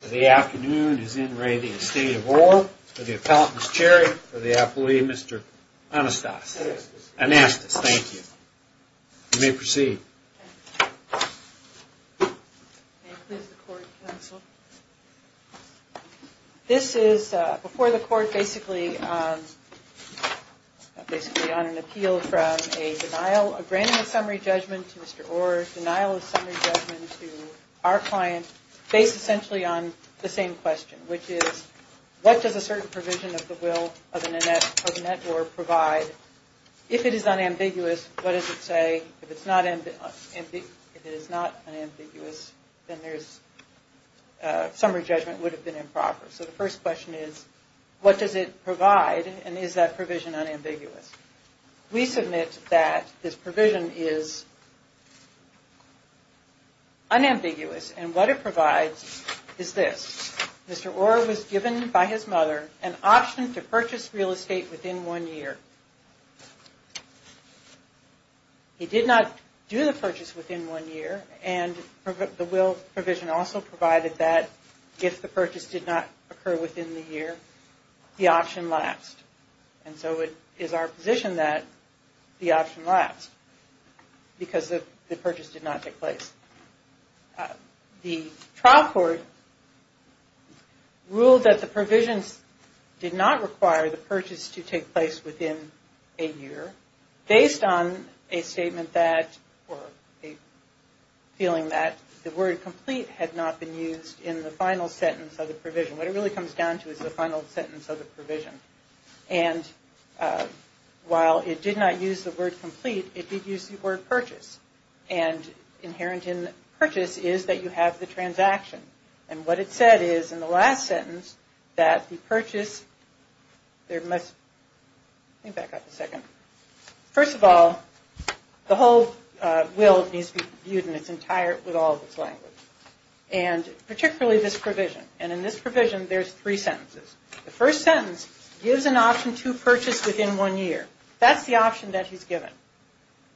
The afternoon is in re the Estate of Orr for the appellant Miss Cherry for the appellee Mr. Anastas. Anastas, thank you. You may proceed. This is before the court basically on an appeal from a denial, a granting of summary judgment to Mr. Orr, denial of summary judgment to our client, based essentially on the same question, which is what does a certain provision of the will of an Annette Orr provide? If it is unambiguous, what does it say? If it's not, if it is not unambiguous, then there's a summary judgment would have So the first question is what does it provide and is that provision unambiguous? We submit that this provision is unambiguous and what it provides is this. Mr. Orr was given by his mother an option to purchase real estate within one year. He did not do the purchase within one year and the will provision also provided that if the purchase did not occur within the year, the option lapsed. And so it is our position that the option lapsed because the purchase did not take place. The trial court ruled that the provisions did not require the purchase to take place within a year based on a statement that or a feeling that the word complete had not been used in the final sentence of the provision. What it really comes down to is the final sentence of the provision. And while it did not use the word complete, it did use the word purchase. And inherent in purchase is that you have the transaction. And what it said is in the last sentence that the purchase There must, let me back up a second. First of all, the whole will needs to be viewed in its entire, with all of its language. And particularly this provision. And in this provision, there's three sentences. The first sentence gives an option to purchase within one year. That's the option that he's given.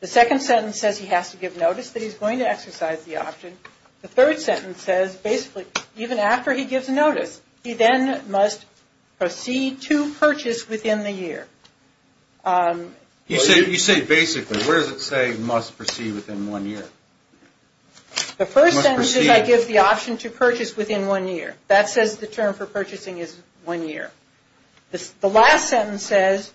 The second sentence says he has to give notice that he's going to exercise the option. The third sentence says basically even after he gives notice, he then must proceed to purchase within the year. You say basically, where does it say must proceed within one year? The first sentence is I give the option to purchase within one year. That says the term for purchasing is one year. The last sentence says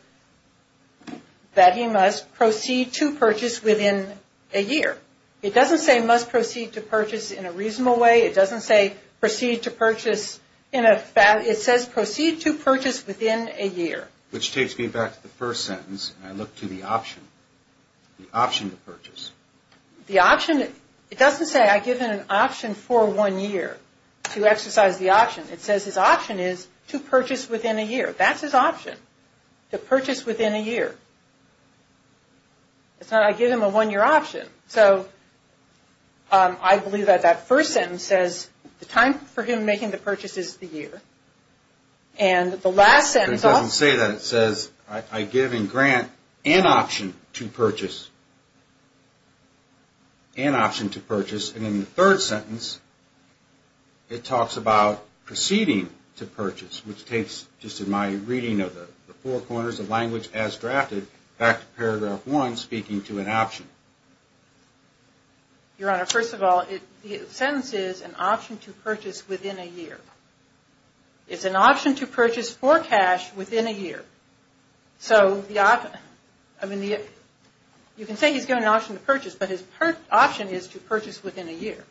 that he must proceed to purchase within a year. It doesn't say must proceed to purchase in a reasonable way. It doesn't say proceed to purchase in a, it says proceed to purchase within a year. Which takes me back to the first sentence, and I look to the option. The option to purchase. The option, it doesn't say I give him an option for one year to exercise the option. It says his option is to purchase within a year. That's his option, to purchase within a year. It's not I give him a one year option. So I believe that that first sentence says the time for him making the purchase is the year. And the last sentence also says I give and grant an option to purchase. An option to purchase. And in the third sentence, it talks about proceeding to purchase, which takes, just in my reading of the four corners of language as drafted, back to paragraph one, speaking to an option. Your Honor, first of all, the sentence is an option to purchase within a year. It's an option to purchase for cash within a year. So the, I mean, you can say he's given an option to purchase, but his option is to purchase within a year.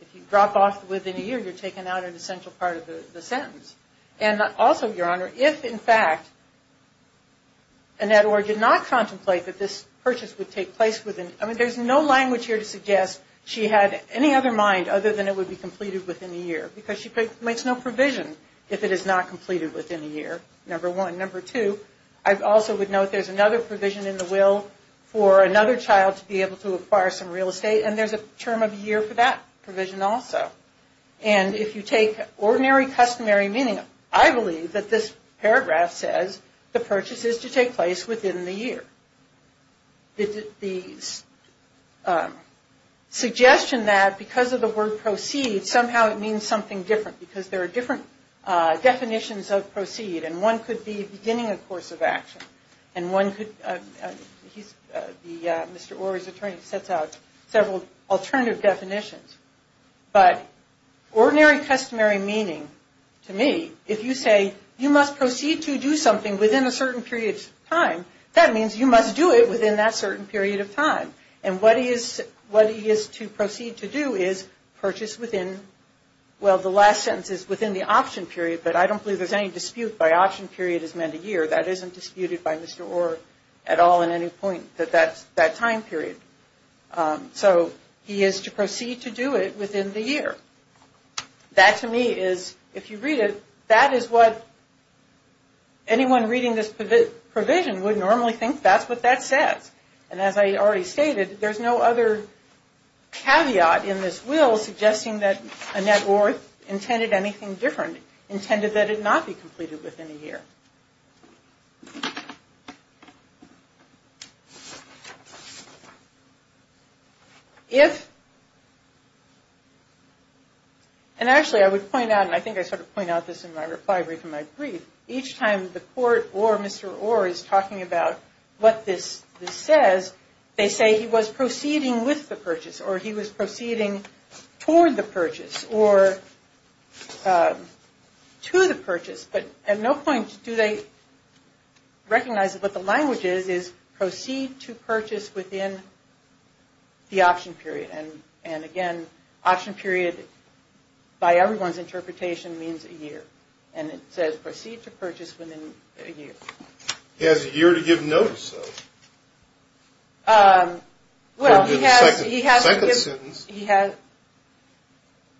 If you drop off within a year, you're taking out an essential part of the sentence. And also, Your Honor, if in fact, Annette Orr did not contemplate that this purchase would take place within, I mean, there's no language here to suggest she had any other mind other than it would be completed within a year. Because she makes no provision if it is not completed within a year, number one. Number two, I also would note there's another provision in the will for another child to be able to acquire some real estate. And there's a term of year for that provision also. And if you take ordinary customary meaning, I believe that this paragraph says the purchase is to take place within the year. The suggestion that because of the word proceed, somehow it means something different. Because there are different definitions of proceed. And one could be beginning a course of action. And one could, he's, Mr. Orr, his attorney, sets out several alternative definitions. But ordinary customary meaning, to me, if you say you must proceed to do something within a certain period of time, that means you must do it within that certain period of time. And what he is to proceed to do is purchase within, well, the last sentence is within the option period. But I don't believe there's any dispute by option period is meant a year. That isn't disputed by Mr. Orr at all in any point that that time period. So he is to proceed to do it within the year. That, to me, is, if you read it, that is what anyone reading this provision would normally think that's what that says. And as I already stated, there's no other caveat in this will suggesting that Annette Orr intended anything different, intended that it not be completed within a year. If, and actually I would point out, and I think I sort of point out this in my reply brief in my brief, each time the court or Mr. Orr is talking about what this says, they say he was proceeding with the purchase or he was proceeding toward the purchase or to the purchase. But at no point do they recognize that what the language is, is proceed to purchase within the option period. And again, option period, by everyone's interpretation, means a year. And it says proceed to purchase within a year. He has a year to give notice, though. Well, he has to give. Second sentence.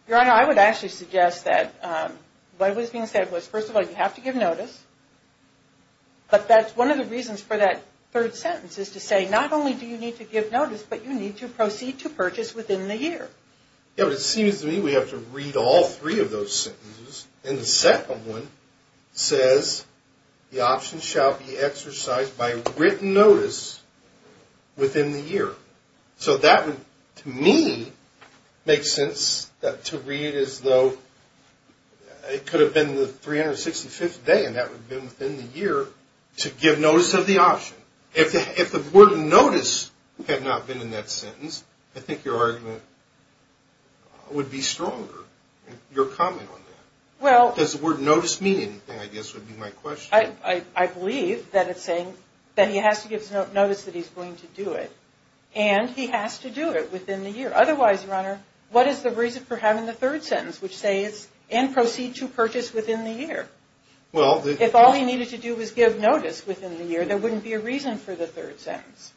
Your Honor, I would actually suggest that what was being said was, first of all, you have to give notice. But that's one of the reasons for that third sentence is to say not only do you need to give notice, but you need to proceed to purchase within the year. Yeah, but it seems to me we have to read all three of those sentences. And the second one says the option shall be exercised by written notice within the year. So that would, to me, make sense to read as though it could have been the 365th day, and that would have been within the year, to give notice of the option. If the word notice had not been in that sentence, I think your argument would be stronger, your comment on that. Does the word notice mean anything, I guess, would be my question. I believe that it's saying that he has to give notice that he's going to do it. And he has to do it within the year. Otherwise, your Honor, what is the reason for having the third sentence, which says and proceed to purchase within the year? If all he needed to do was give notice within the year, there wouldn't be a reason for the third sentence.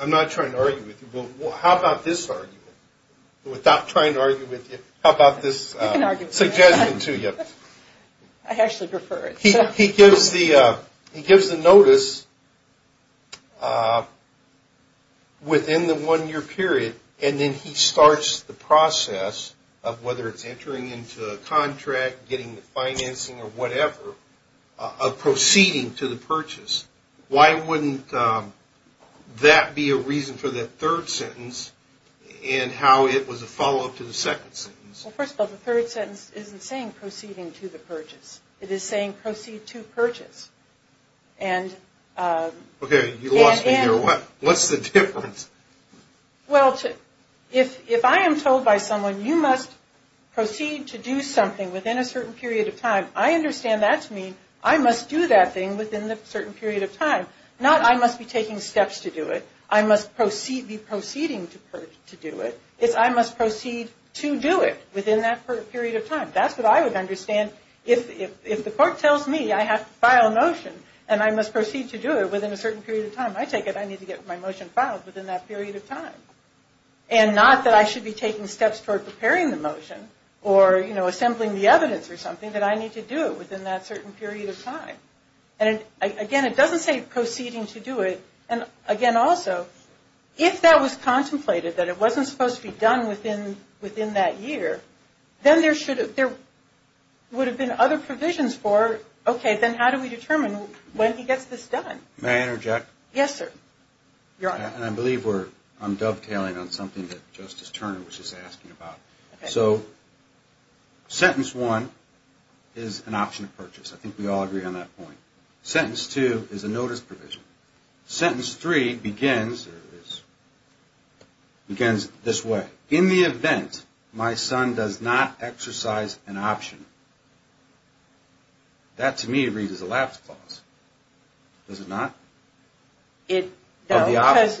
I'm not trying to argue with you, but how about this argument? Without trying to argue with you, how about this suggestion to you? I actually prefer it. He gives the notice within the one-year period, and then he starts the process of whether it's entering into a contract, getting the financing or whatever, of proceeding to the purchase. Why wouldn't that be a reason for that third sentence and how it was a follow-up to the second sentence? Well, first of all, the third sentence isn't saying proceeding to the purchase. It is saying proceed to purchase. Okay, you lost me here. What's the difference? Well, if I am told by someone, you must proceed to do something within a certain period of time, I understand that to mean I must do that thing within a certain period of time. Not I must be taking steps to do it. I must be proceeding to do it. It's I must proceed to do it within that period of time. That's what I would understand if the court tells me I have to file a motion and I must proceed to do it within a certain period of time. I take it I need to get my motion filed within that period of time. And not that I should be taking steps toward preparing the motion or, you know, assembling the evidence or something that I need to do within that certain period of time. And, again, it doesn't say proceeding to do it. And, again, also, if that was contemplated, that it wasn't supposed to be done within that year, then there would have been other provisions for, okay, then how do we determine when he gets this done? May I interject? Yes, sir. And I believe I'm dovetailing on something that Justice Turner was just asking about. So sentence one is an option of purchase. I think we all agree on that point. Sentence two is a notice provision. Sentence three begins this way. In the event my son does not exercise an option, that, to me, raises a lapse clause. Does it not? Not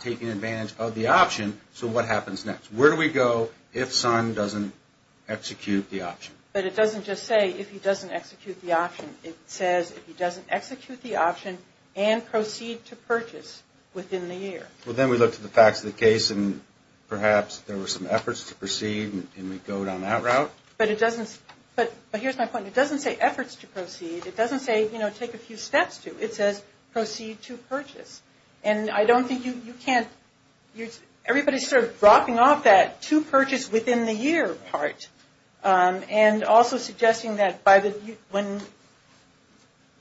taking advantage of the option. So what happens next? Where do we go if son doesn't execute the option? But it doesn't just say if he doesn't execute the option. It says if he doesn't execute the option and proceed to purchase within the year. Well, then we look to the facts of the case, and perhaps there were some efforts to proceed, and we go down that route. But here's my point. It doesn't say efforts to proceed. It doesn't say, you know, take a few steps to. It says proceed to purchase. And I don't think you can't – everybody's sort of dropping off that to purchase within the year part and also suggesting that by the – when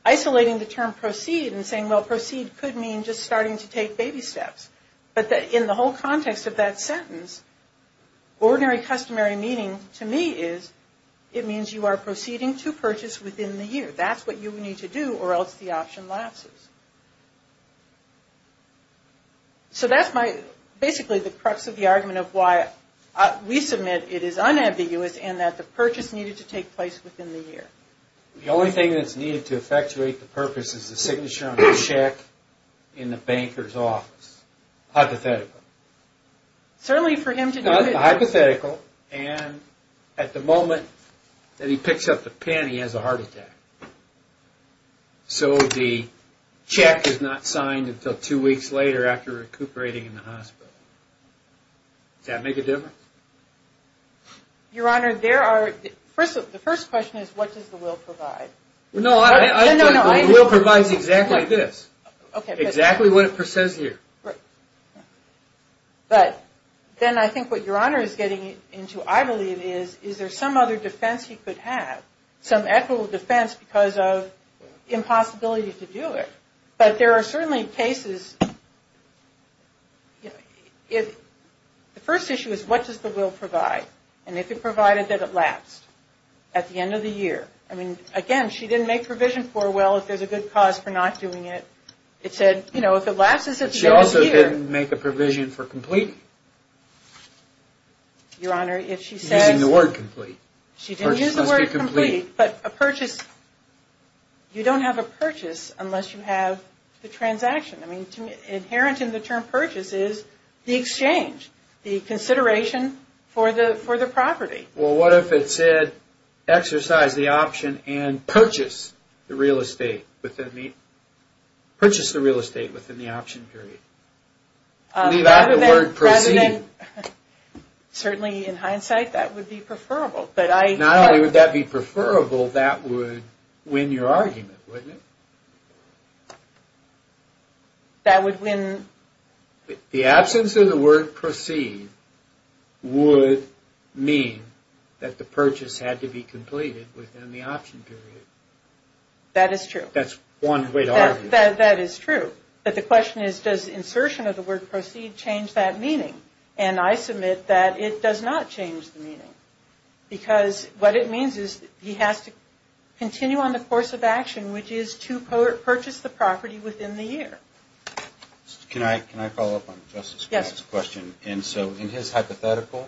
isolating the term proceed and saying, well, proceed could mean just starting to take baby steps. But in the whole context of that sentence, ordinary customary meaning to me is it means you are proceeding to purchase within the year. That's what you need to do or else the option lapses. So that's my – basically the crux of the argument of why we submit it is unambiguous and that the purchase needed to take place within the year. The only thing that's needed to effectuate the purpose is the signature on the check in the banker's office. Hypothetically. Certainly for him to do it. Hypothetically and at the moment that he picks up the pen he has a heart attack. So the check is not signed until two weeks later after recuperating in the hospital. Does that make a difference? Your Honor, there are – the first question is what does the will provide? No, the will provides exactly this. Exactly what it says here. But then I think what Your Honor is getting into, I believe, is is there some other defense he could have? Some equitable defense because of impossibility to do it. But there are certainly cases – the first issue is what does the will provide? And if it provided that it lapsed at the end of the year. I mean, again, she didn't make provision for well if there's a good cause for not doing it. It said, you know, if it lapses at the end of the year. She also didn't make a provision for completing. Your Honor, if she says – Using the word complete. She didn't use the word complete. Purchase must be complete. But a purchase – you don't have a purchase unless you have the transaction. I mean, inherent in the term purchase is the exchange, the consideration for the property. Well, what if it said exercise the option and purchase the real estate within the option period? Leave out the word proceed. Certainly, in hindsight, that would be preferable. Not only would that be preferable, that would win your argument, wouldn't it? That would win – The absence of the word proceed would mean that the purchase had to be completed within the option period. That is true. That's one way to argue it. That is true. But the question is, does insertion of the word proceed change that meaning? And I submit that it does not change the meaning. Because what it means is he has to continue on the course of action, which is to purchase the property within the year. Can I follow up on Justice Grant's question? Yes. And so in his hypothetical,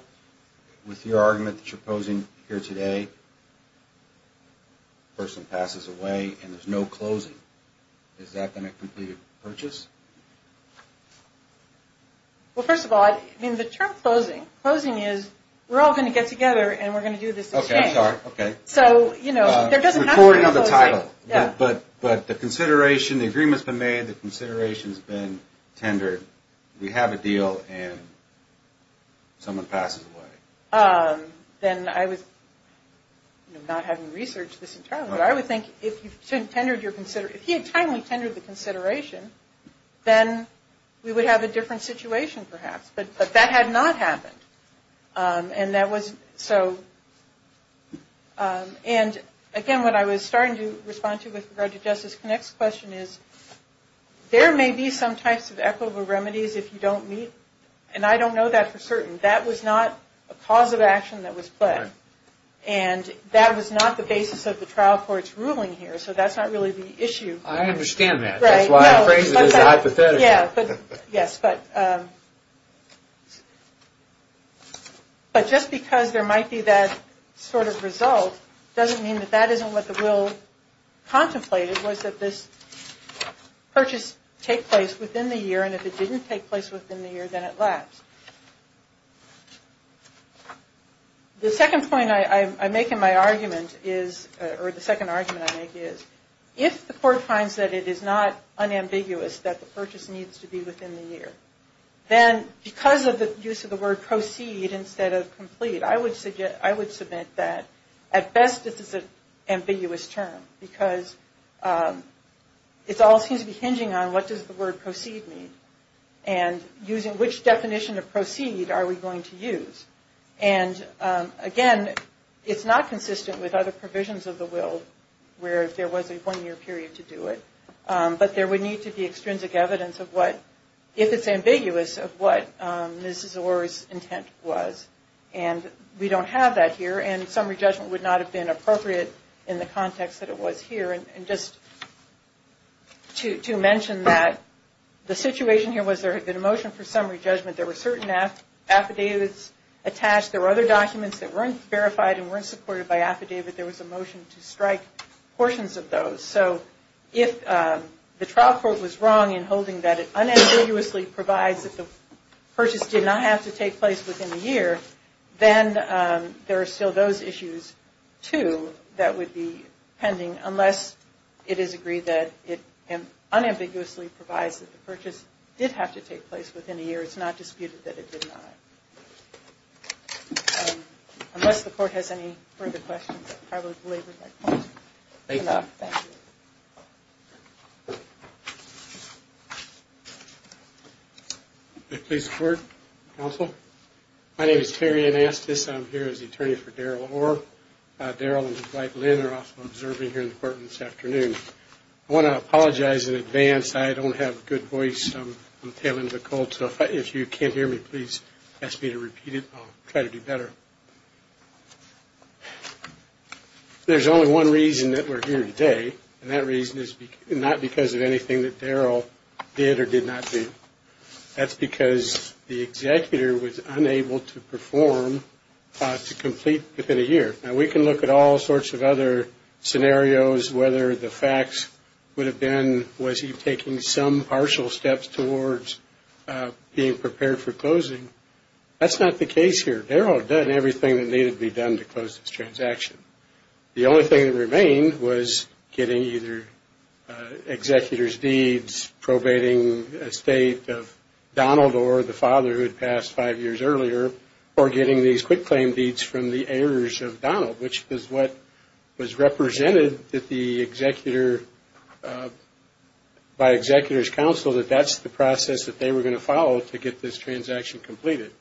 with your argument that you're posing here today, the person passes away and there's no closing. Is that then a completed purchase? Well, first of all, I mean, the term closing – closing is we're all going to get together and we're going to do this exchange. Okay. I'm sorry. Okay. So, you know, there doesn't have to be a closing. But the consideration, the agreement's been made, the consideration's been tendered. We have a deal and someone passes away. Then I was – not having researched this entirely, but I would think if you tendered your – if he had timely tendered the consideration, then we would have a different situation perhaps. But that had not happened. And that was – so – and again, what I was starting to respond to with regard to Justice Connick's question is there may be some types of equitable remedies if you don't meet – and I don't know that for certain. That was not a cause of action that was put. And that was not the basis of the trial court's ruling here. So that's not really the issue. I understand that. Right. That's why I phrased it as a hypothetical. Yeah. But – yes. But just because there might be that sort of result doesn't mean that that isn't what the will contemplated, was that this purchase take place within the year. And if it didn't take place within the year, then it lapsed. The second point I make in my argument is – or the second argument I make is if the court finds that it is not unambiguous that the purchase needs to be within the year, then because of the use of the word proceed instead of complete, I would submit that at best this is an ambiguous term because it all seems to be hinging on what does the word proceed mean and using which definition of proceed are we going to use. And again, it's not consistent with other provisions of the will where there was a one-year period to do it. But there would need to be extrinsic evidence of what, if it's ambiguous, of what Mrs. Orr's intent was. And we don't have that here. And summary judgment would not have been appropriate in the context that it was here. And just to mention that the situation here was there had been a motion for summary judgment. There were certain affidavits attached. There were other documents that weren't verified and weren't supported by affidavit. There was a motion to strike portions of those. So if the trial court was wrong in holding that it unambiguously provides that the purchase did not have to take place within the year, then there are still those issues, too, that would be pending unless it is agreed that it unambiguously provides that the purchase did have to take place within a year. It's not disputed that it did not. Unless the court has any further questions, I probably belabored my point. Thank you. Thank you. Please report, counsel. My name is Terry Anastas. I'm here as the attorney for Daryl Orr. Daryl and Dwight Lynn are also observing here in the courtroom this afternoon. I want to apologize in advance. I don't have a good voice. I'm tailing the cold. So if you can't hear me, please ask me to repeat it. I'll try to do better. There's only one reason that we're here today, and that reason is not because of anything that Daryl did or did not do. That's because the executor was unable to perform to complete within a year. Now, we can look at all sorts of other scenarios, whether the facts would have been, was he taking some partial steps towards being prepared for closing. That's not the case here. Daryl had done everything that needed to be done to close this transaction. The only thing that remained was getting either executor's deeds, probating a state of Donald or the father who had passed five years earlier, or getting these quick claim deeds from the heirs of Donald, which is what was represented by executor's counsel, that that's the process that they were going to follow to get this transaction completed.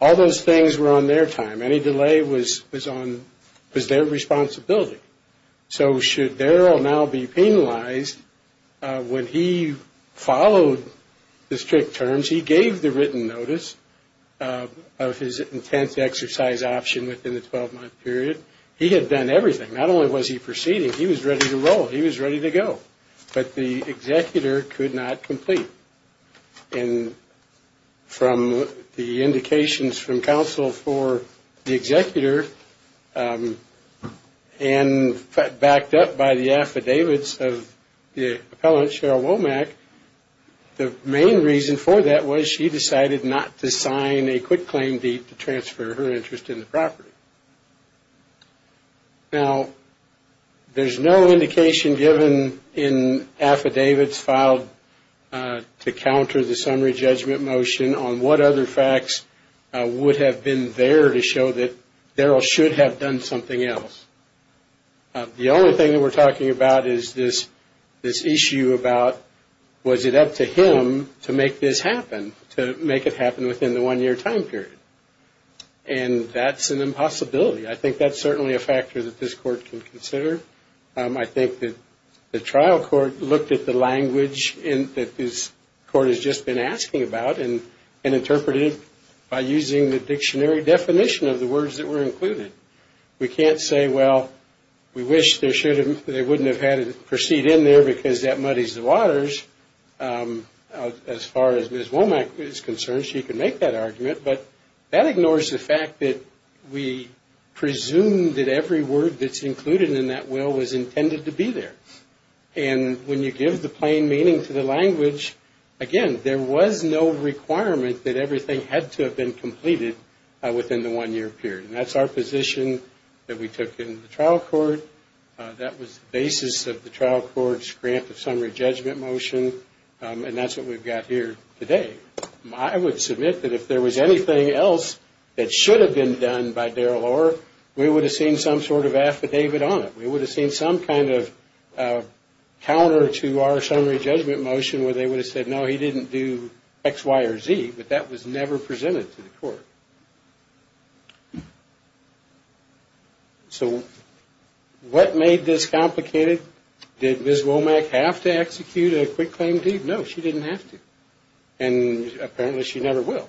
All those things were on their time. Any delay was their responsibility. So should Daryl now be penalized, when he followed the strict terms, which he gave the written notice of his intense exercise option within the 12-month period, he had done everything. Not only was he proceeding, he was ready to roll. He was ready to go. But the executor could not complete. And from the indications from counsel for the executor, and backed up by the affidavits of the appellant, Cheryl Womack, the main reason for that was she decided not to sign a quick claim deed to transfer her interest in the property. Now, there's no indication given in affidavits filed to counter the summary judgment motion on what other facts would have been there to show that Daryl should have done something else. The only thing that we're talking about is this issue about was it up to him to make this happen, to make it happen within the one-year time period. And that's an impossibility. I think that's certainly a factor that this Court can consider. I think that the trial court looked at the language that this Court has just been asking about and interpreted it by using the dictionary definition of the words that were included. We can't say, well, we wish they wouldn't have had it proceed in there because that muddies the waters. As far as Ms. Womack is concerned, she can make that argument. But that ignores the fact that we presume that every word that's included in that will was intended to be there. And when you give the plain meaning to the language, again, there was no requirement that everything had to have been completed within the one-year period. And that's our position that we took in the trial court. That was the basis of the trial court's grant of summary judgment motion. And that's what we've got here today. I would submit that if there was anything else that should have been done by Daryl Orr, we would have seen some sort of affidavit on it. We would have seen some kind of counter to our summary judgment motion where they would have said, no, he didn't do X, Y, or Z, but that was never presented to the court. So what made this complicated? Did Ms. Womack have to execute a quick claim deed? No, she didn't have to. And apparently she never will.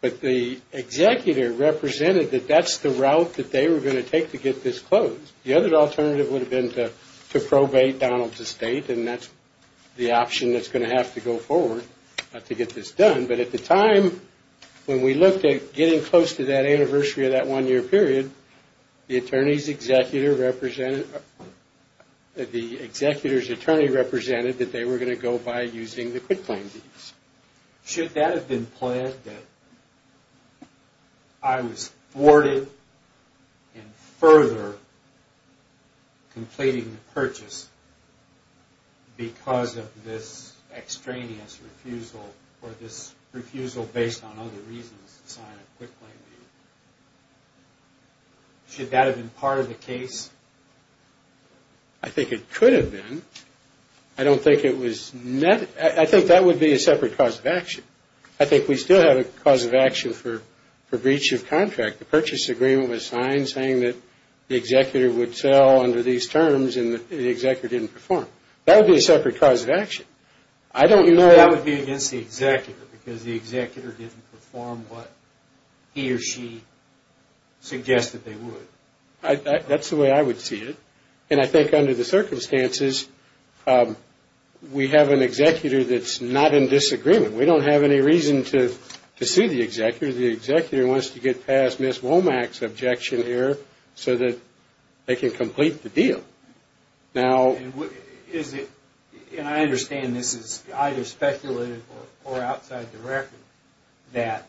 But the executor represented that that's the route that they were going to take to get this closed. The other alternative would have been to probate Donald's estate, and that's the option that's going to have to go forward to get this done. But at the time, when we looked at getting close to that anniversary of that one-year period, the executor's attorney represented that they were going to go by using the quick claim deeds. Should that have been pled that I was thwarted in further completing the purchase because of this extraneous refusal or this refusal based on other reasons to sign a quick claim deed? Should that have been part of the case? I think it could have been. I don't think it was. I think that would be a separate cause of action. I think we still have a cause of action for breach of contract. The purchase agreement was signed saying that the executor would sell under these terms and the executor didn't perform. That would be a separate cause of action. That would be against the executor because the executor didn't perform what he or she suggested they would. That's the way I would see it. And I think under the circumstances, we have an executor that's not in disagreement. We don't have any reason to sue the executor. The executor wants to get past Ms. Womack's objection here so that they can complete the deal. And I understand this is either speculative or outside the record that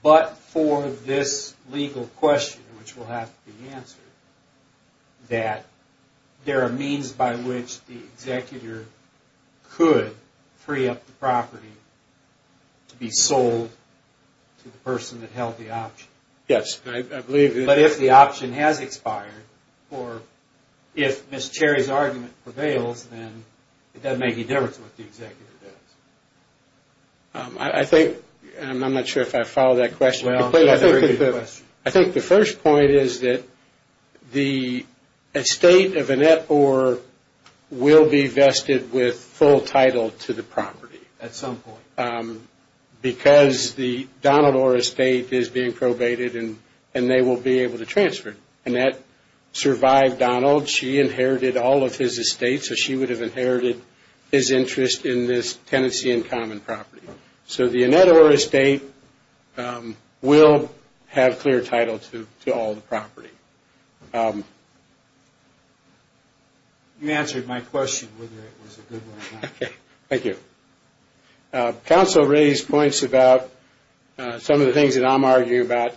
but for this legal question, which will have to be answered, that there are means by which the executor could free up the property to be sold to the person that held the option. Yes. But if the option has expired or if Ms. Cherry's argument prevails, then it doesn't make any difference what the executor does. I think, and I'm not sure if I followed that question. I think the first point is that the estate of Annette Orr will be vested with full title to the property. At some point. Because the Donald Orr estate is being probated and they will be able to transfer it. Annette survived Donald. She inherited all of his estates. So she would have inherited his interest in this tenancy and common property. So the Annette Orr estate will have clear title to all the property. You answered my question whether it was a good one or not. Thank you. Counsel raised points about some of the things that I'm arguing about.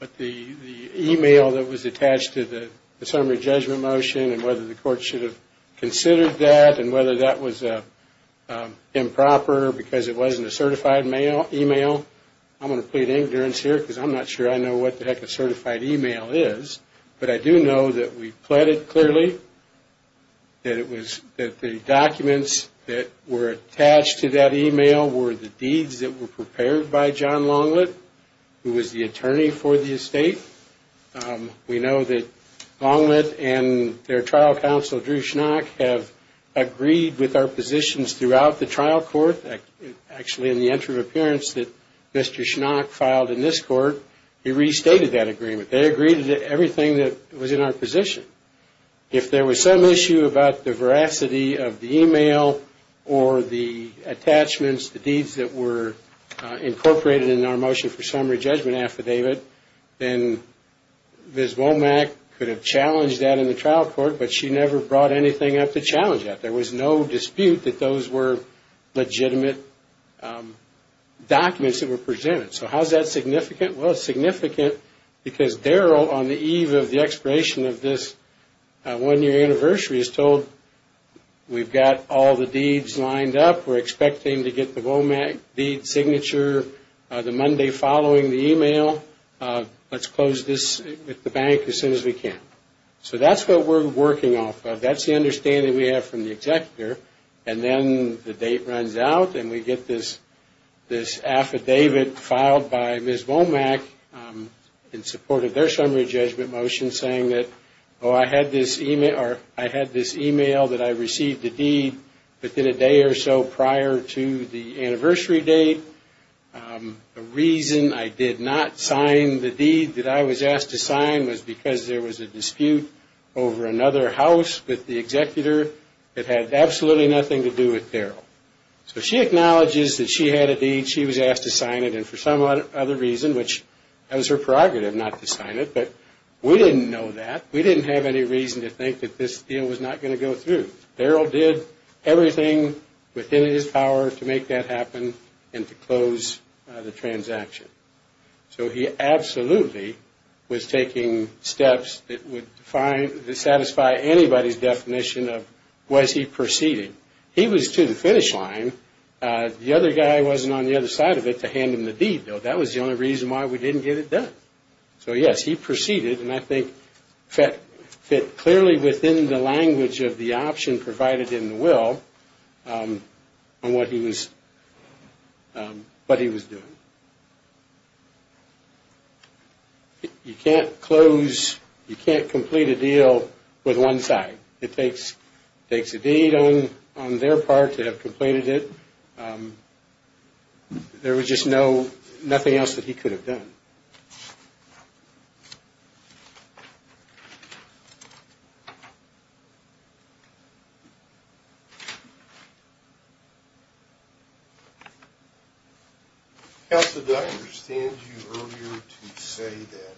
But the email that was attached to the summary judgment motion and whether the court should have considered that and whether that was improper because it wasn't a certified email. I'm going to plead ignorance here because I'm not sure I know what the heck a certified email is. But I do know that we pled it clearly. That the documents that were attached to that email were the deeds that were prepared by John Longlet, who was the attorney for the estate. We know that Longlet and their trial counsel, Drew Schnock, have agreed with our positions throughout the trial court. Actually, in the entry of appearance that Mr. Schnock filed in this court, he restated that agreement. They agreed to everything that was in our position. If there was some issue about the veracity of the email or the attachments, the deeds that were incorporated in our motion for summary judgment affidavit, then Ms. Womack could have challenged that in the trial court, but she never brought anything up to challenge that. There was no dispute that those were legitimate documents that were presented. So how is that significant? Well, it's significant because Darrell, on the eve of the expiration of this one-year anniversary, is told we've got all the deeds lined up. We're expecting to get the Womack deed signature the Monday following the email. Let's close this with the bank as soon as we can. So that's what we're working off of. That's the understanding we have from the executor. And then the date runs out and we get this affidavit filed by Ms. Womack in support of their summary judgment motion saying that, oh, I had this email that I received the deed within a day or so prior to the anniversary date. The reason I did not sign the deed that I was asked to sign was because there was a dispute over another house with the executor that had absolutely nothing to do with Darrell. So she acknowledges that she had a deed, she was asked to sign it, and for some other reason, which that was her prerogative not to sign it, but we didn't know that. We didn't have any reason to think that this deal was not going to go through. Darrell did everything within his power to make that happen and to close the transaction. So he absolutely was taking steps that would satisfy anybody's definition of was he proceeding. He was to the finish line. The other guy wasn't on the other side of it to hand him the deed, though. That was the only reason why we didn't get it done. So, yes, he proceeded, and I think fit clearly within the language of the option provided in the will on what he was doing. You can't close, you can't complete a deal with one side. It takes a deed on their part to have completed it. There was just nothing else that he could have done. Counsel, did I understand you earlier to say that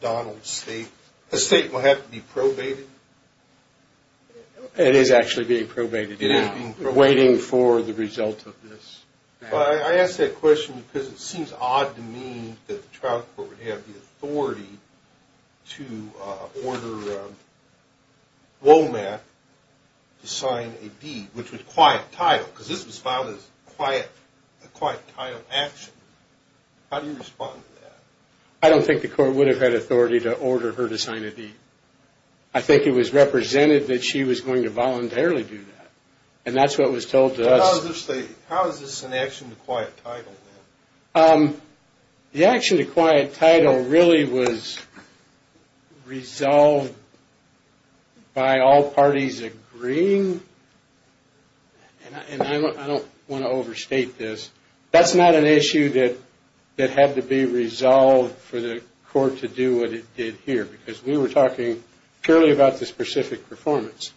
Donald's state estate will have to be probated? It is actually being probated. It is being probated. Waiting for the result of this. I ask that question because it seems odd to me that the trial court would have the authority to order Womack to sign a deed, which was quiet title, because this was filed as a quiet title action. How do you respond to that? I don't think the court would have had authority to order her to sign a deed. I think it was represented that she was going to voluntarily do that, and that's what was told to us. How is this an action to quiet title? The action to quiet title really was resolved by all parties agreeing, and I don't want to overstate this. That's not an issue that had to be resolved for the court to do what it did here, because we were talking purely about the specific performance.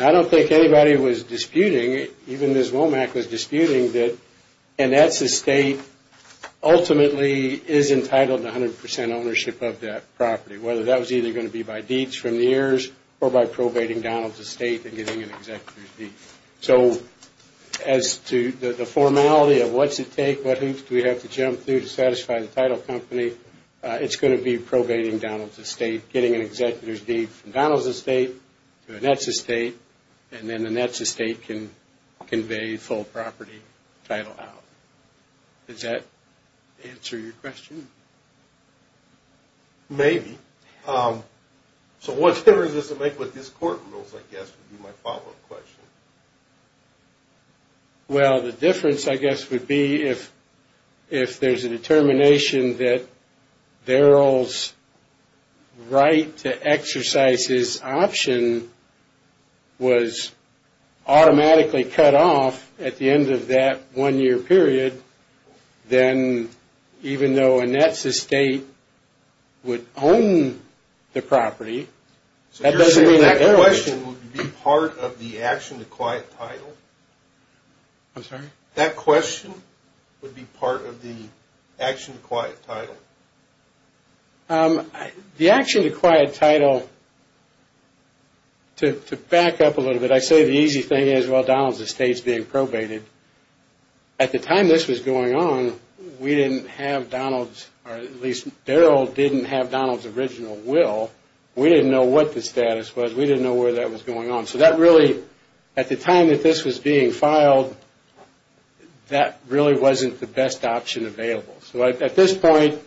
I don't think anybody was disputing, even Ms. Womack was disputing, that Annette's estate ultimately is entitled to 100% ownership of that property, whether that was either going to be by deeds from the heirs or by probating Donald's estate and getting an executive deed. So as to the formality of what's at stake, what hoops do we have to jump through to satisfy the title company, it's going to be probating Donald's estate, getting an executive deed from Donald's estate to Annette's estate, and then Annette's estate can convey full property title out. Does that answer your question? Maybe. So what difference does it make with these court rules, I guess, would be my follow-up question. Well, the difference, I guess, would be if there's a determination that Daryl's right to exercise his option was automatically cut off at the end of that one-year period, then even though Annette's estate would own the property, that doesn't mean that Daryl... I'm sorry? That question would be part of the action to quiet title. The action to quiet title, to back up a little bit, I say the easy thing is, well, Donald's estate's being probated. At the time this was going on, we didn't have Donald's, or at least Daryl didn't have Donald's original will, we didn't know what the status was, we didn't know where that was going on. So that really, at the time that this was being filed, that really wasn't the best option available. So at this point...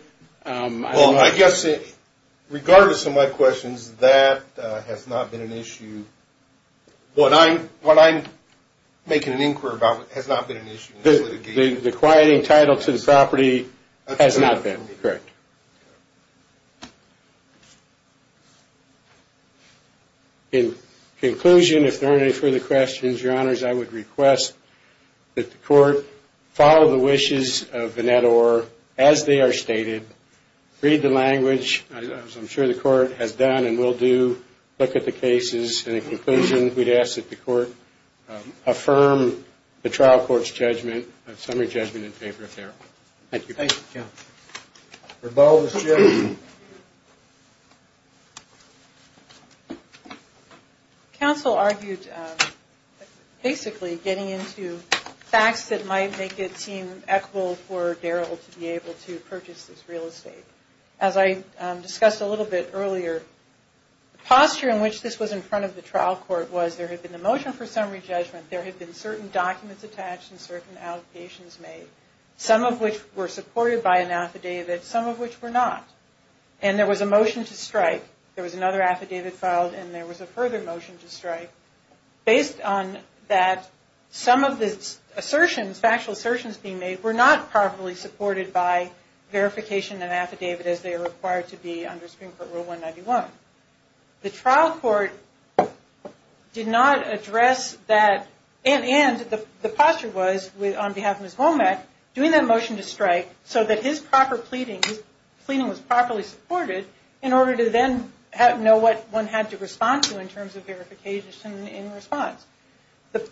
Well, I guess, regardless of my questions, that has not been an issue. What I'm making an inquiry about has not been an issue. The quieting title to the property has not been, correct. In conclusion, if there aren't any further questions, Your Honors, I would request that the court follow the wishes of Annette Orr as they are stated, read the language, as I'm sure the court has done and will do, look at the cases, and in conclusion, we'd ask that the court affirm the trial court's judgment, summary judgment in favor of Daryl. Thank you. Thank you. Thank you. Rebel is here. Counsel argued, basically, getting into facts that might make it seem equitable for Daryl to be able to purchase this real estate. As I discussed a little bit earlier, the posture in which this was in front of the trial court was there had been a motion for summary judgment, there had been certain documents attached and certain allocations made, some of which were supported by an affidavit, some of which were not, and there was a motion to strike. There was another affidavit filed, and there was a further motion to strike, based on that some of the assertions, factual assertions being made, were not properly supported by verification and affidavit as they are required to be under Supreme Court Rule 191. The trial court did not address that, and the posture was, on behalf of Ms. Womack, doing that motion to strike so that his proper pleading, his pleading was properly supported, in order to then know what one had to respond to in terms of verification in response.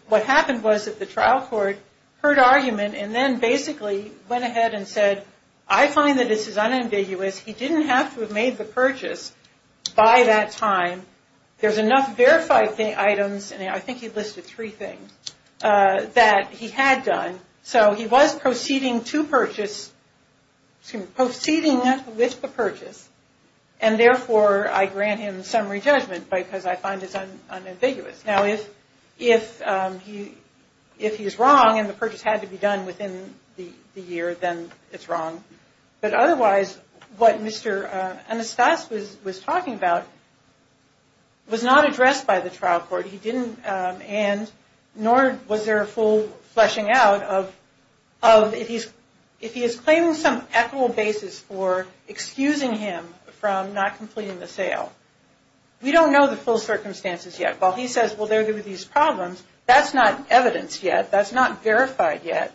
What happened was that the trial court heard argument and then basically went ahead and said, I find that this is unambiguous, he didn't have to have made the purchase by that time, there's enough verified items, and I think he listed three things, that he had done, so he was proceeding to purchase, proceeding with the purchase, and therefore I grant him summary judgment because I find this unambiguous. Now, if he is wrong and the purchase had to be done within the year, then it's wrong, but otherwise what Mr. Anastas was talking about was not addressed by the trial court, he didn't, and nor was there a full fleshing out of, if he is claiming some equitable basis for excusing him from not completing the sale. We don't know the full circumstances yet. While he says, well there were these problems, that's not evidence yet, that's not verified yet.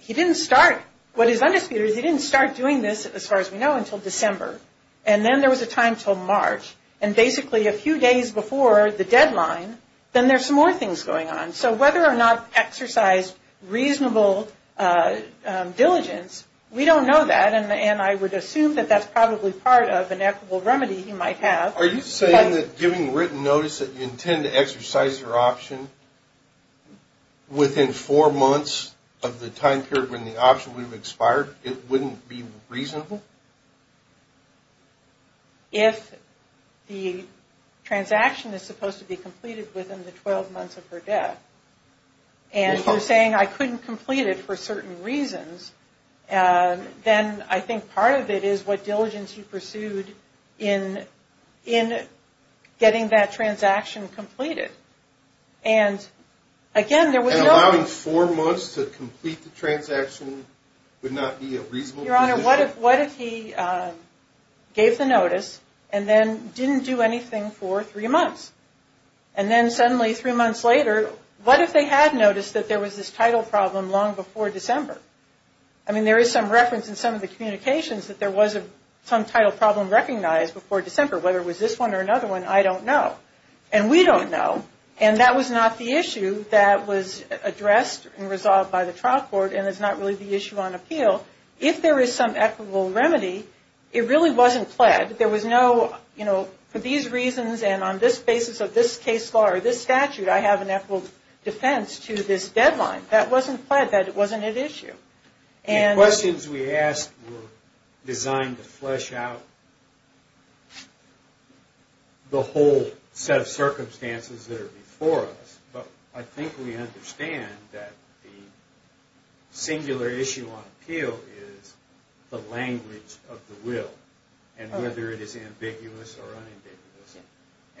He didn't start, what is undisputed is he didn't start doing this, as far as we know, until December, and then there was a time until March, and basically a few days before the deadline, then there's some more things going on, so whether or not exercised reasonable diligence, we don't know that, and I would assume that that's probably part of an equitable remedy he might have. Are you saying that giving written notice that you intend to exercise your option within four months of the time period when the option would have expired, it wouldn't be reasonable? If the transaction is supposed to be completed within the 12 months of her death, and you're saying I couldn't complete it for certain reasons, then I think part of it is what diligence he pursued in getting that transaction completed, and again there was no... And allowing four months to complete the transaction would not be a reasonable position? Your Honor, what if he gave the notice, and then didn't do anything for three months, and then suddenly three months later, what if they had noticed that there was this title problem long before December? I mean, there is some reference in some of the communications that there was some title problem recognized before December, whether it was this one or another one, I don't know, and we don't know, and that was not the issue that was addressed and resolved by the trial court, and it's not really the issue on appeal. If there is some equitable remedy, it really wasn't pled. There was no, you know, for these reasons and on this basis of this case law or this statute, I have an equitable defense to this deadline. That wasn't pled, that wasn't at issue. The questions we asked were designed to flesh out the whole set of circumstances that are before us, but I think we understand that the singular issue on appeal is the language of the will, and whether it is ambiguous or unambiguous,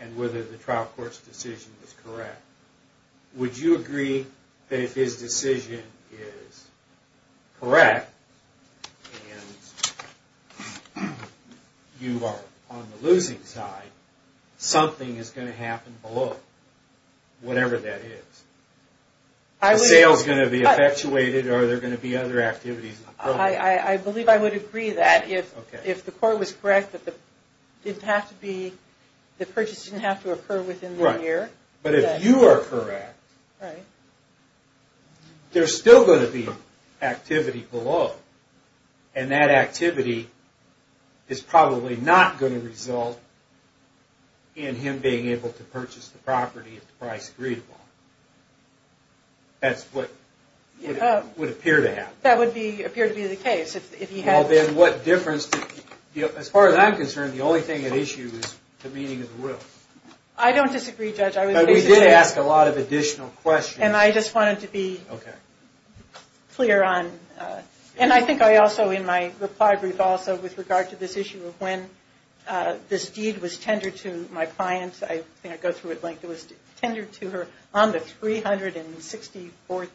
and whether the trial court's decision is correct. Would you agree that if his decision is correct, and you are on the losing side, something is going to happen below, whatever that is? Are sales going to be effectuated, or are there going to be other activities? I believe I would agree that if the court was correct that the purchase didn't have to occur within the year. But if you are correct, there's still going to be activity below, and that activity is probably not going to result in him being able to purchase the property at the price agreed upon. That's what would appear to happen. That would appear to be the case. As far as I'm concerned, the only thing at issue is the meaning of the will. I don't disagree, Judge. But we did ask a lot of additional questions. And I just wanted to be clear on, and I think in my reply brief also, with regard to this issue of when this deed was tendered to my client, I think I go through it at length. It was tendered to her on the 364th,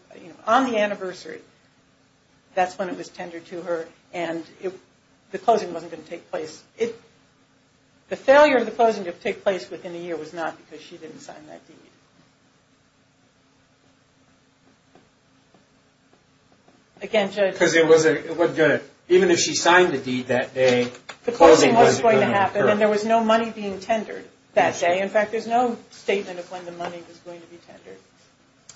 on the anniversary. That's when it was tendered to her, and the closing wasn't going to take place. The failure of the closing to take place within the year was not because she didn't sign that deed. Again, Judge. Because it wasn't going to, even if she signed the deed that day, the closing wasn't going to occur. And there was no money being tendered that day. In fact, there's no statement of when the money was going to be tendered.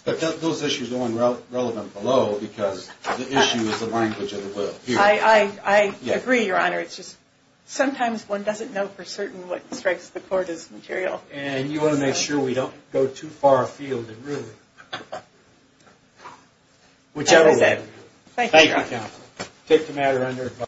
But those issues are the ones relevant below, because the issue is the language of the will. I agree, Your Honor. It's just sometimes one doesn't know for certain what strikes the court as material. And you want to make sure we don't go too far afield in ruling. Whichever way. Thank you, Your Honor. Thank you, counsel. Take the matter under advice.